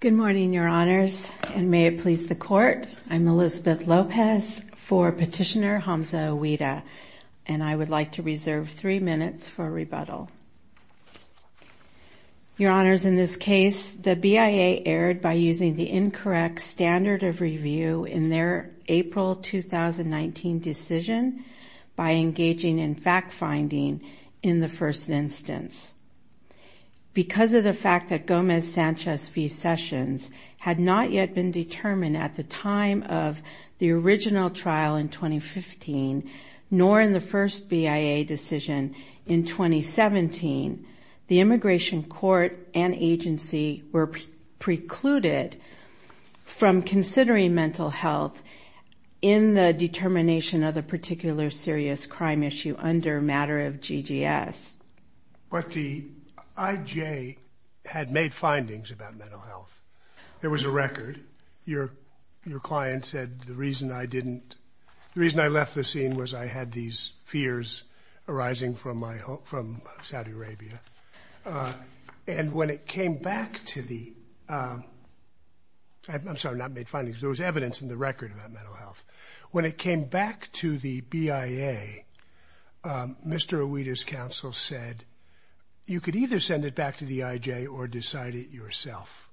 Good morning, Your Honors, and may it please the Court, I'm Elizabeth Lopez for Petitioner Hamza Eweedah, and I would like to reserve three minutes for rebuttal. Your Honors, in this case, the BIA erred by using the incorrect standard of review in their April 2019 decision by engaging in fact-finding in the first instance. Because of the fact that Gomez-Sanchez v. Sessions had not yet been determined at the time of the original trial in 2015, nor in the first BIA decision in 2017, the Immigration Court and agency were precluded from considering mental health in the determination of a particular serious crime issue under a matter of GGS. But the IJ had made findings about mental health. There was a record. Your client said the reason I didn't, the reason I left the scene was I had these fears arising from Saudi Arabia. And when it came back to the, I'm sorry, not made findings, there was evidence in the record about mental health. When it came back to the BIA, Mr. Eweedah's counsel said you could either send it back to the IJ or decide it yourself.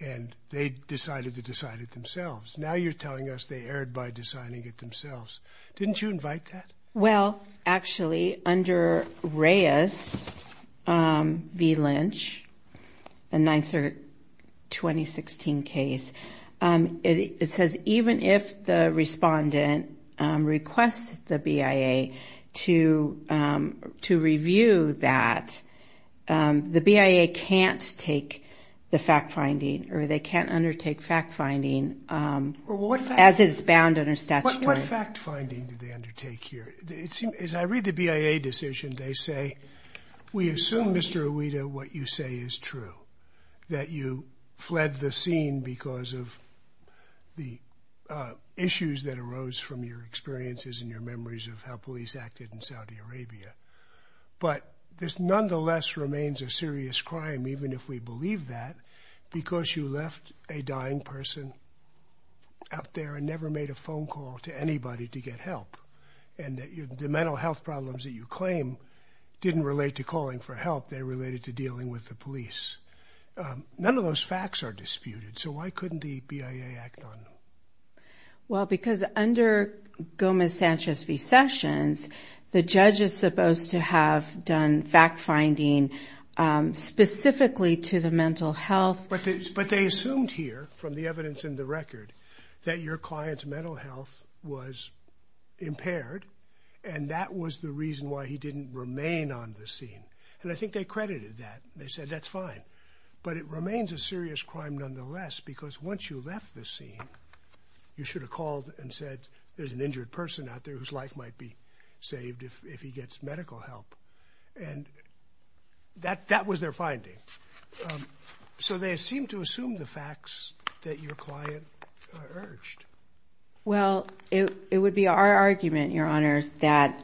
And they decided to decide it themselves. Now you're telling us they erred by deciding it themselves. Didn't you invite that? Well, actually, under Reyes v. Lynch, a 9th Circuit 2016 case, it says even if the respondent requests the BIA to review that, the BIA can't take the fact-finding or they can't undertake fact-finding as it's bound under statutory. What fact-finding did they undertake here? As I read the BIA decision, they say, we assume, Mr. Eweedah, what you say is true, that you fled the scene because of the issues that arose from your experiences and your memories of how police acted in Saudi Arabia. But this nonetheless remains a serious crime, even if we believe that, because you left a dying person out there and never made a phone call to anybody to get help. And the mental health problems that you claim didn't relate to calling for help, they related to dealing with the police. None of those facts are disputed, so why couldn't the BIA act on them? Well, because under Gomez-Sanchez v. Sessions, the judge is supposed to have done fact-finding specifically to the mental health. But they assumed here, from the evidence in the record, that your client's mental health was impaired, and that was the reason why he didn't remain on the scene. And I think they credited that. They said, that's fine. But it remains a serious crime nonetheless, because once you left the scene, you should have called and said, there's an injured person out there whose life might be saved if he gets medical help. And that was their finding. So they seem to assume the facts that your client urged. Well, it would be our argument, Your Honors, that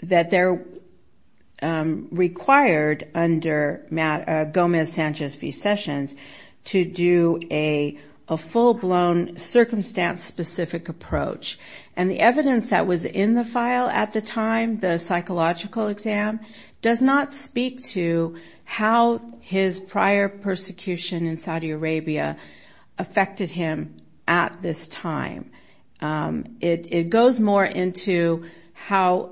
they're required under Gomez-Sanchez v. Sessions to do a full-blown, circumstance-specific approach. And the evidence that was in the file at the time, the psychological exam, does not speak to how his prior persecution in Saudi Arabia affected him at this time. It goes more into how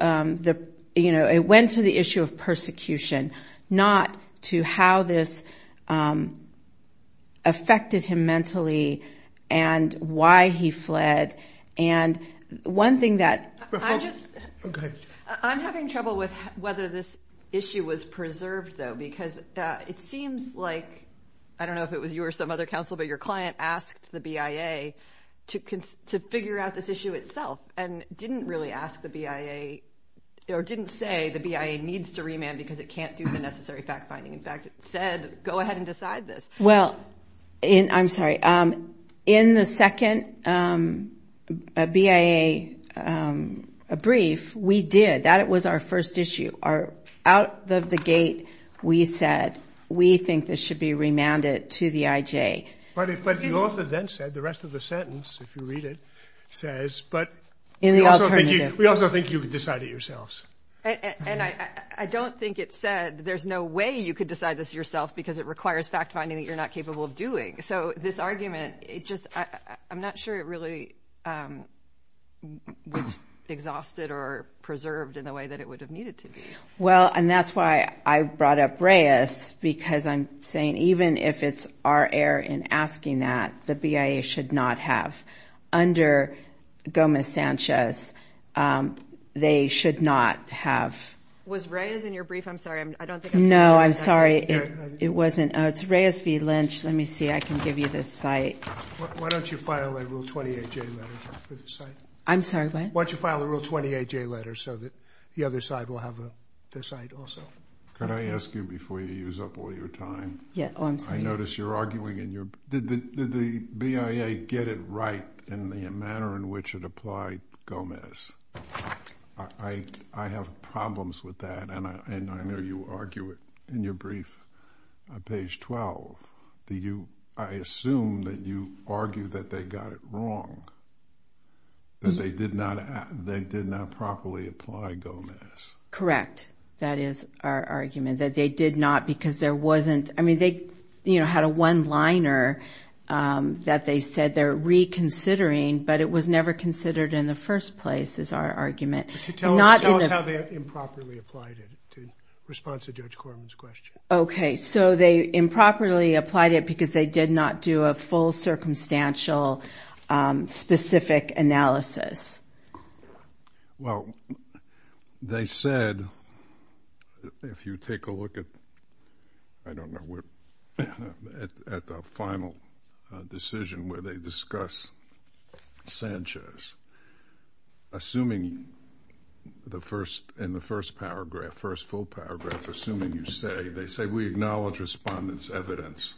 it went to the issue of persecution, not to how this affected him I'm having trouble with whether this issue was preserved, though, because it seems like, I don't know if it was you or some other counsel, but your client asked the BIA to figure out this issue itself, and didn't really ask the BIA, or didn't say the BIA needs to remand because it can't do the necessary fact-finding. In fact, it said, go ahead and decide this. Well, I'm sorry. In the second BIA brief, we did. That was our first issue. Out of the gate, we said, we think this should be remanded to the IJ. But the author then said, the rest of the sentence, if you read it, says, but we also think you can decide it yourselves. And I don't think it said, there's no way you could decide this yourself because it requires fact-finding that you're not capable of doing. So this argument, I'm not sure it really was exhausted or preserved in the way that it would have needed to be. Well, and that's why I brought up Reyes, because I'm saying, even if it's our error in asking that, the BIA should not have. Under Gomez-Sanchez, they should not have. Was Reyes in your brief? I'm sorry. I don't think I'm hearing you. No, I'm sorry. It wasn't. It's Reyes v. Lynch. Let me see. I can give you the site. Why don't you file a Rule 28J letter for the site? I'm sorry, what? Why don't you file a Rule 28J letter so that the other side will have the site also? Could I ask you, before you use up all your time? Yeah. Oh, I'm sorry. I notice you're arguing. Did the BIA get it right in the manner in which it applied Gomez? I have problems with that, and I know you argue it in your brief. On page 12, I assume that you argue that they got it wrong, that they did not properly apply Gomez. Correct. That is our argument, that they did not, because there wasn't... I mean, they had a one-liner that they said they're reconsidering, but it was never considered in the first place, is our argument. Tell us how they improperly applied it, in response to Judge Corman's question. Okay, so they improperly applied it because they did not do a full, circumstantial, specific analysis. Well, they said, if you take a look at... I don't know where... at the final decision where they discuss Sanchez, assuming in the first paragraph, first full paragraph, assuming you say, they say, we acknowledge respondent's evidence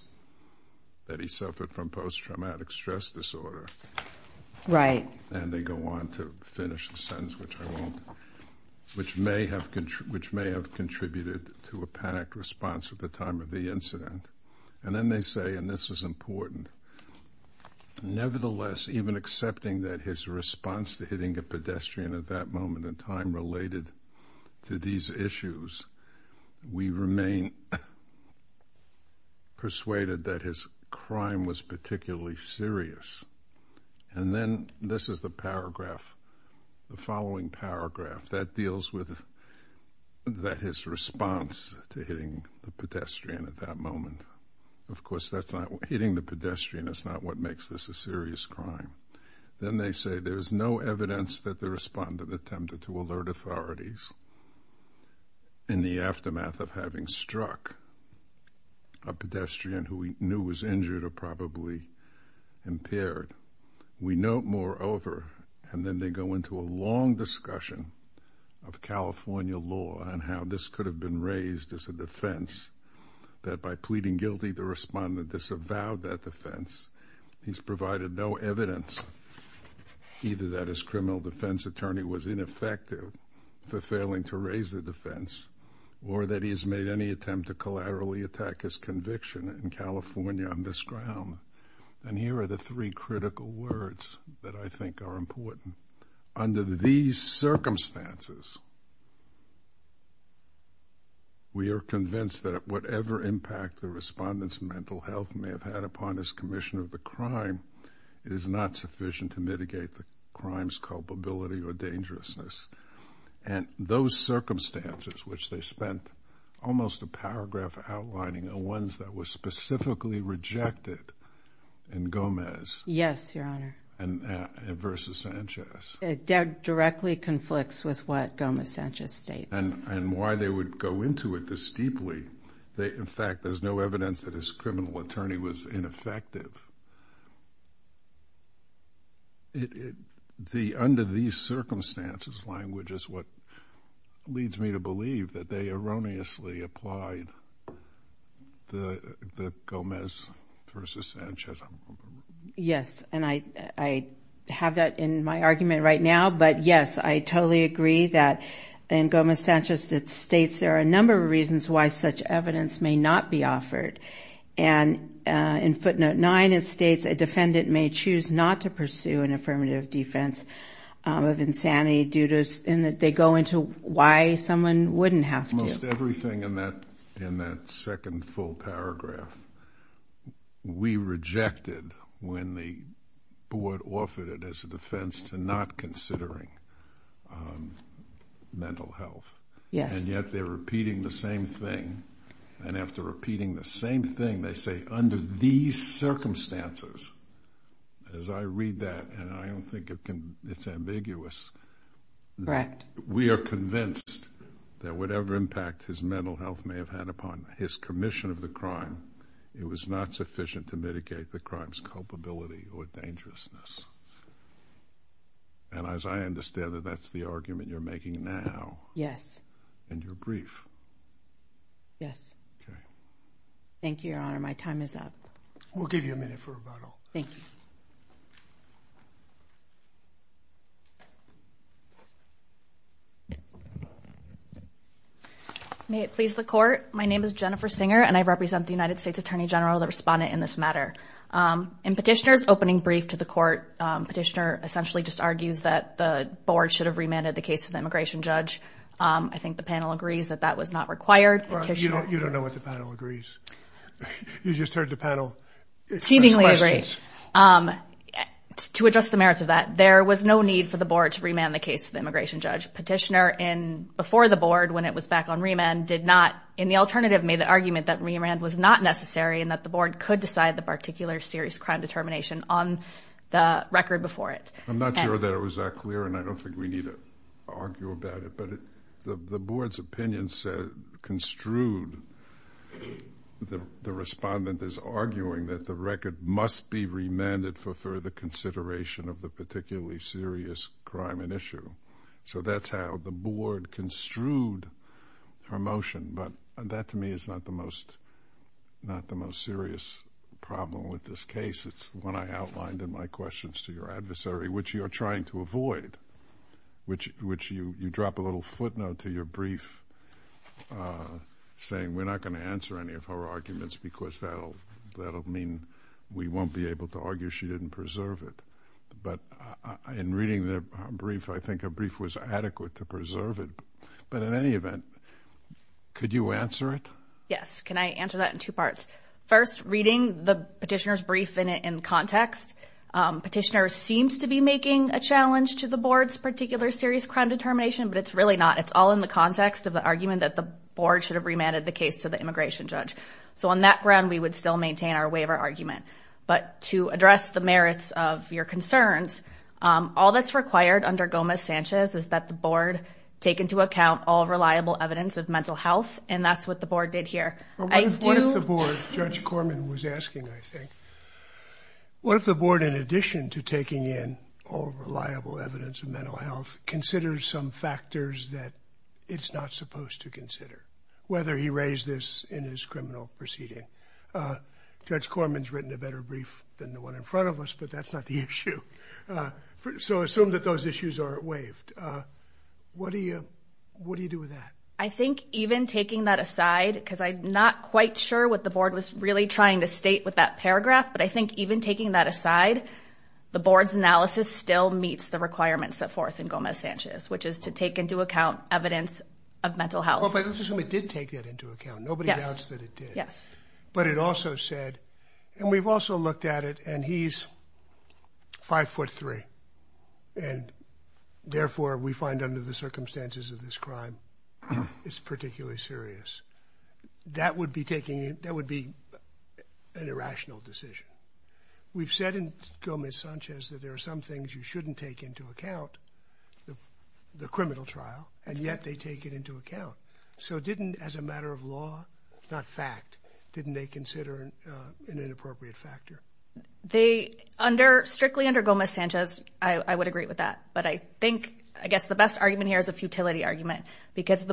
that he suffered from post-traumatic stress disorder. Right. And they go on to finish the sentence, which may have contributed to a panicked response at the time of the incident. And then they say, and this is important, nevertheless, even accepting that his response to hitting a pedestrian at that moment in time related to these issues, we remain persuaded that his crime was particularly serious. And then, this is the paragraph, the following paragraph, that deals with his response to hitting the pedestrian at that moment. Of course, that's not... hitting the pedestrian is not what makes this a serious crime. Then they say, there's no evidence that the respondent attempted to alert authorities in the aftermath of having struck a pedestrian who we knew was injured or probably impaired. We note, moreover, and then they go into a long discussion of California law on how this could have been raised as a defense, that by pleading guilty, the respondent disavowed that defense. He's provided no evidence, either that his criminal defense attorney was ineffective for failing to raise the defense, or that he has made any attempt to collaterally attack his conviction in California on this ground. And here are the three critical words that I think are important. Under these circumstances, we are convinced that whatever impact the respondent's mental health may have had upon his commission of the crime is not sufficient to mitigate the crime's culpability or dangerousness. And those circumstances, which they spent almost a paragraph outlining, are ones that were specifically rejected in Gomez... Yes, Your Honor. And versus Sanchez. It directly conflicts with what Gomez-Sanchez states. And why they would go into it this deeply, they... in fact, there's no evidence that his criminal attorney was ineffective. Under these circumstances, language is what leads me to believe that they erroneously applied the Gomez versus Sanchez. Yes. And I have that in my argument right now, but yes, I totally agree that in Gomez-Sanchez it states there are a number of reasons why such evidence may not be offered. And in footnote nine, it states a defendant may choose not to pursue an affirmative defense of insanity due to... in that they go into why someone wouldn't have to. Almost everything in that second full paragraph, we rejected when the board offered it as a Yes. And yet they're repeating the same thing, and after repeating the same thing, they say under these circumstances, as I read that, and I don't think it's ambiguous... Correct. We are convinced that whatever impact his mental health may have had upon his commission of the crime, it was not sufficient to mitigate the crime's culpability or dangerousness. And as I understand it, that's the argument you're making now. Yes. And you're brief. Yes. Okay. Thank you, Your Honor. My time is up. We'll give you a minute for rebuttal. Thank you. May it please the Court. My name is Jennifer Singer, and I represent the United States Attorney General, the respondent in this matter. In Petitioner's opening brief to the Court, Petitioner essentially just argues that the board should have remanded the case to the immigration judge. I think the panel agrees that that was not required. Petitioner... You don't know what the panel agrees. You just heard the panel... Seemingly agree.... ask questions. To address the merits of that, there was no need for the board to remand the case to the immigration judge. Petitioner, before the board, when it was back on remand, did not, in the alternative, made the argument that remand was not necessary and that the board could decide the particular serious crime determination on the record before it. I'm not sure that it was that clear, and I don't think we need to argue about it. But the board's opinion said, construed, the respondent is arguing that the record must be remanded for further consideration of the particularly serious crime and issue. So that's how the board construed her motion, but that, to me, is not the most serious problem with this case. It's the one I outlined in my questions to your adversary, which you're trying to avoid, which you drop a little footnote to your brief saying, we're not going to answer any of her arguments because that'll mean we won't be able to argue she didn't preserve it. But in reading the brief, I think her brief was adequate to preserve it. But in any event, could you answer it? Yes. Can I answer that in two parts? First, reading the petitioner's brief in context, petitioner seems to be making a challenge to the board's particular serious crime determination, but it's really not. It's all in the context of the argument that the board should have remanded the case to the immigration judge. So on that ground, we would still maintain our waiver argument. But to address the merits of your concerns, all that's required under Gomez-Sanchez is that the board take into account all reliable evidence of mental health, and that's what the board did here. What if the board, Judge Corman was asking, I think, what if the board, in addition to taking in all reliable evidence of mental health, considers some factors that it's not supposed to consider, whether he raised this in his criminal proceeding? Judge Corman's written a better brief than the one in front of us, but that's not the issue. So assume that those issues are waived. What do you do with that? I think even taking that aside, because I'm not quite sure what the board was really trying to state with that paragraph, but I think even taking that aside, the board's analysis still meets the requirements set forth in Gomez-Sanchez, which is to take into account evidence of mental health. But let's assume it did take that into account. Nobody doubts that it did. Yes. But it also said, and we've also looked at it, and he's 5'3", and therefore, we find under the circumstances of this crime, it's particularly serious. That would be taking, that would be an irrational decision. We've said in Gomez-Sanchez that there are some things you shouldn't take into account, the criminal trial, and yet they take it into account. So didn't, as a matter of law, not fact, didn't they consider an inappropriate factor? Strictly under Gomez-Sanchez, I would agree with that. But I think, I guess the best argument here is a futility argument, because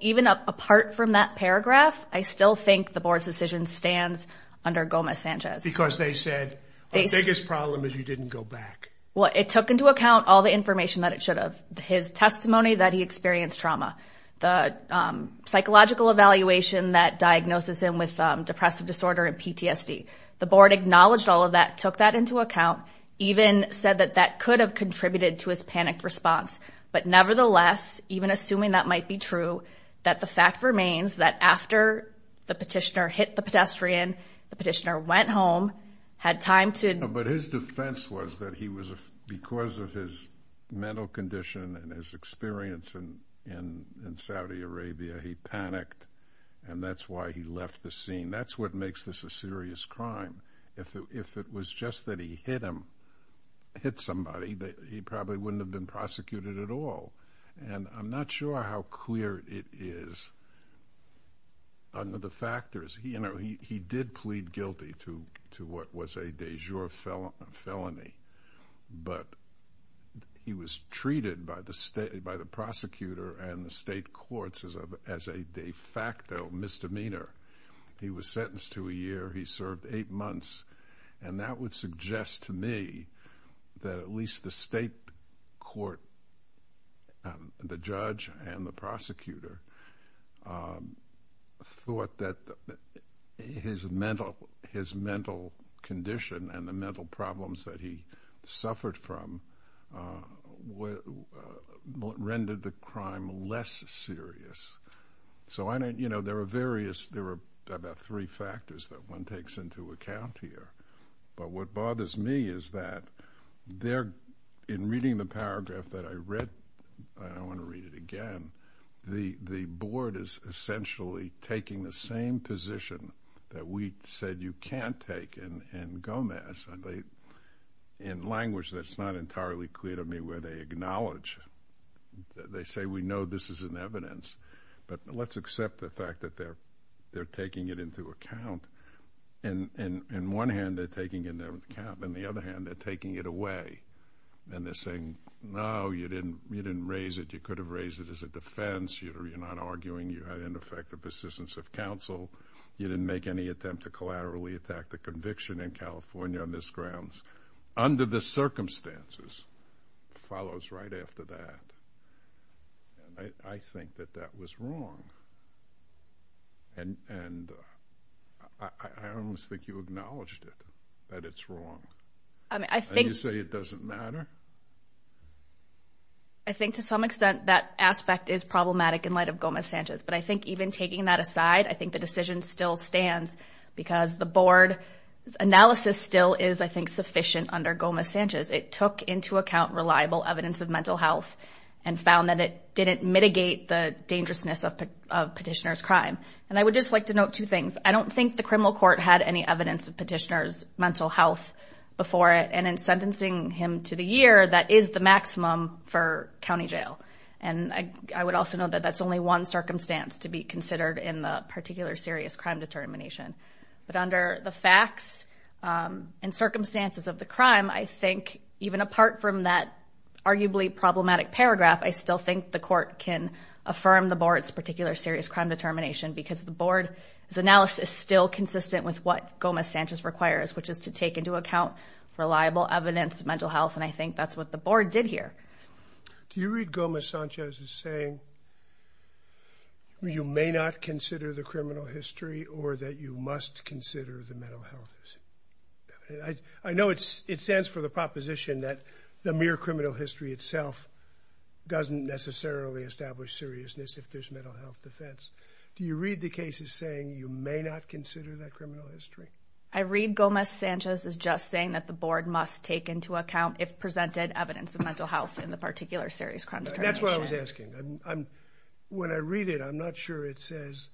even apart from that paragraph, I still think the board's decision stands under Gomez-Sanchez. Because they said, the biggest problem is you didn't go back. Well, it took into account all the information that it should have. His testimony that he experienced trauma, the psychological evaluation that diagnoses him with depressive disorder and PTSD. The board acknowledged all of that, took that into account, even said that that could have contributed to his panicked response. But nevertheless, even assuming that might be true, that the fact remains that after the petitioner hit the pedestrian, the petitioner went home, had time to... and his experience in Saudi Arabia, he panicked, and that's why he left the scene. That's what makes this a serious crime. If it was just that he hit him, hit somebody, he probably wouldn't have been prosecuted at all. And I'm not sure how clear it is under the factors. He did plead guilty to what was a de jour felony. But he was treated by the prosecutor and the state courts as a de facto misdemeanor. He was sentenced to a year, he served eight months, and that would suggest to me that at least the state court, the judge and the prosecutor, thought that his mental condition and the mental problems that he suffered from rendered the crime less serious. So there are various, there are about three factors that one takes into account here. But what bothers me is that in reading the paragraph that I read, I don't want to read it again, the board is essentially taking the same position that we said you can't take in Gomez. In language that's not entirely clear to me where they acknowledge, they say we know this is an evidence, but let's accept the fact that they're taking it into account. On one hand, they're taking it into account, on the other hand, they're taking it away. And they're saying, no, you didn't raise it, you could have raised it as a defense, you're not arguing, you had in effect a persistence of counsel, you didn't make any attempt to conviction in California on this grounds, under the circumstances, follows right after that. And I think that that was wrong, and I almost think you acknowledged it, that it's wrong. And you say it doesn't matter? I think to some extent that aspect is problematic in light of Gomez-Sanchez, but I think even taking that aside, I think the decision still stands because the board's analysis still is, I think, sufficient under Gomez-Sanchez. It took into account reliable evidence of mental health and found that it didn't mitigate the dangerousness of petitioner's crime. And I would just like to note two things. I don't think the criminal court had any evidence of petitioner's mental health before it, and in sentencing him to the year, that is the maximum for county jail. And I would also note that that's only one circumstance to be considered in the particular serious crime determination. But under the facts and circumstances of the crime, I think even apart from that arguably problematic paragraph, I still think the court can affirm the board's particular serious crime determination because the board's analysis is still consistent with what Gomez-Sanchez requires, which is to take into account reliable evidence of mental health, and I think that's what the board did here. Do you read Gomez-Sanchez as saying you may not consider the criminal history or that you must consider the mental health? I know it stands for the proposition that the mere criminal history itself doesn't necessarily establish seriousness if there's mental health defense. Do you read the cases saying you may not consider that criminal history? I read Gomez-Sanchez as just saying that the board must take into account if presented evidence of mental health in the particular serious crime determination. That's what I was asking. When I read it, I'm not sure it says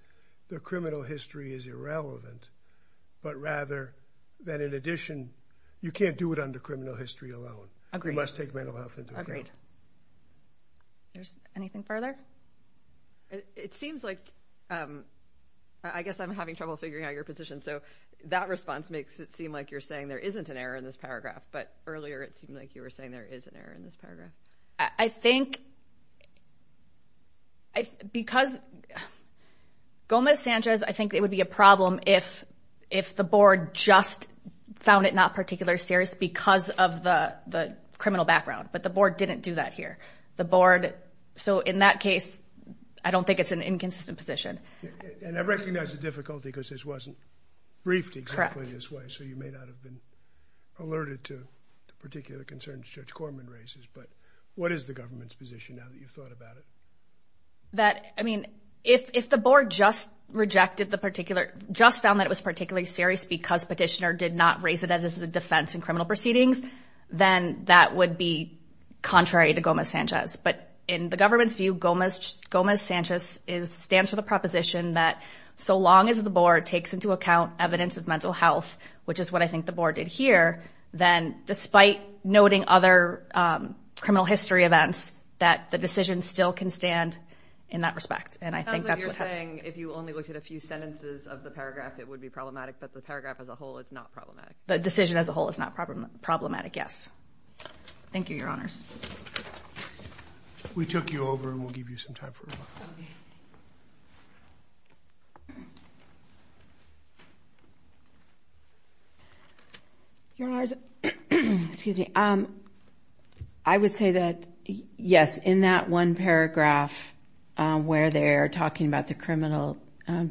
the criminal history is irrelevant, but rather that in addition you can't do it under criminal history alone. Agreed. You must take mental health into account. Agreed. Anything further? It seems like, I guess I'm having trouble figuring out your position, so that response makes it seem like you're saying there isn't an error in this paragraph, but earlier it seemed like you were saying there is an error in this paragraph. I think because Gomez-Sanchez, I think it would be a problem if the board just found it not particularly serious because of the criminal background, but the board didn't do that here. The board, so in that case, I don't think it's an inconsistent position. And I recognize the difficulty because this wasn't briefed exactly this way, so you may not have been alerted to the particular concerns Judge Corman raises, but what is the government's position now that you've thought about it? That, I mean, if the board just rejected the particular, just found that it was particularly serious because Petitioner did not raise it as a defense in criminal proceedings, then that would be contrary to Gomez-Sanchez. But in the government's view, Gomez-Sanchez stands for the proposition that so long as the board takes into account evidence of mental health, which is what I think the board did here, then despite noting other criminal history events, that the decision still can stand in that respect. And I think that's what happened. It sounds like you're saying if you only looked at a few sentences of the paragraph, it would be problematic, but the paragraph as a whole is not problematic. The decision as a whole is not problematic, yes. Thank you, Your Honors. We took you over and we'll give you some time for rebuttal. I would say that, yes, in that one paragraph where they're talking about the criminal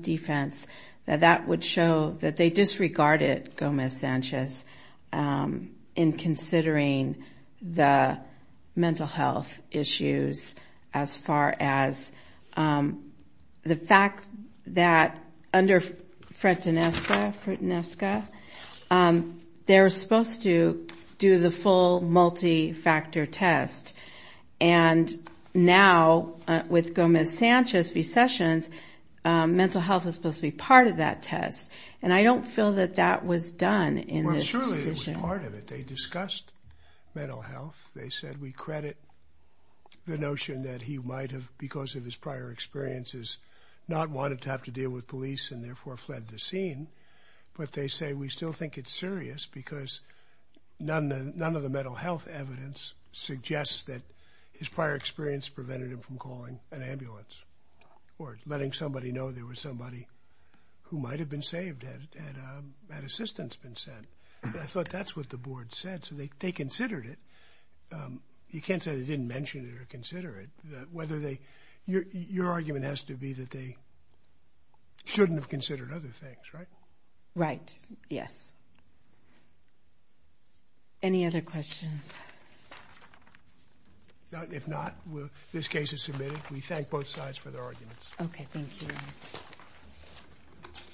defense, that that would show that they disregarded Gomez-Sanchez in considering the mental health issues as far as the fact that under Fretinesca, they're supposed to do the full multi-factor test. And now, with Gomez-Sanchez recessions, mental health is supposed to be part of that test. And I don't feel that that was done in this decision. Well, surely it was part of it. They discussed mental health. They said we credit the notion that he might have, because of his prior experiences, not wanted to have to deal with police and therefore fled the scene. But they say we still think it's serious because none of the mental health evidence suggests that his prior experience prevented him from calling an ambulance or letting somebody know there was somebody who might have been saved had assistance been sent. I thought that's what the board said, so they considered it. You can't say they didn't mention it or consider it. Your argument has to be that they shouldn't have considered other things, right? Right, yes. Any other questions? If not, this case is submitted. We thank both sides for their arguments. Okay, thank you very much.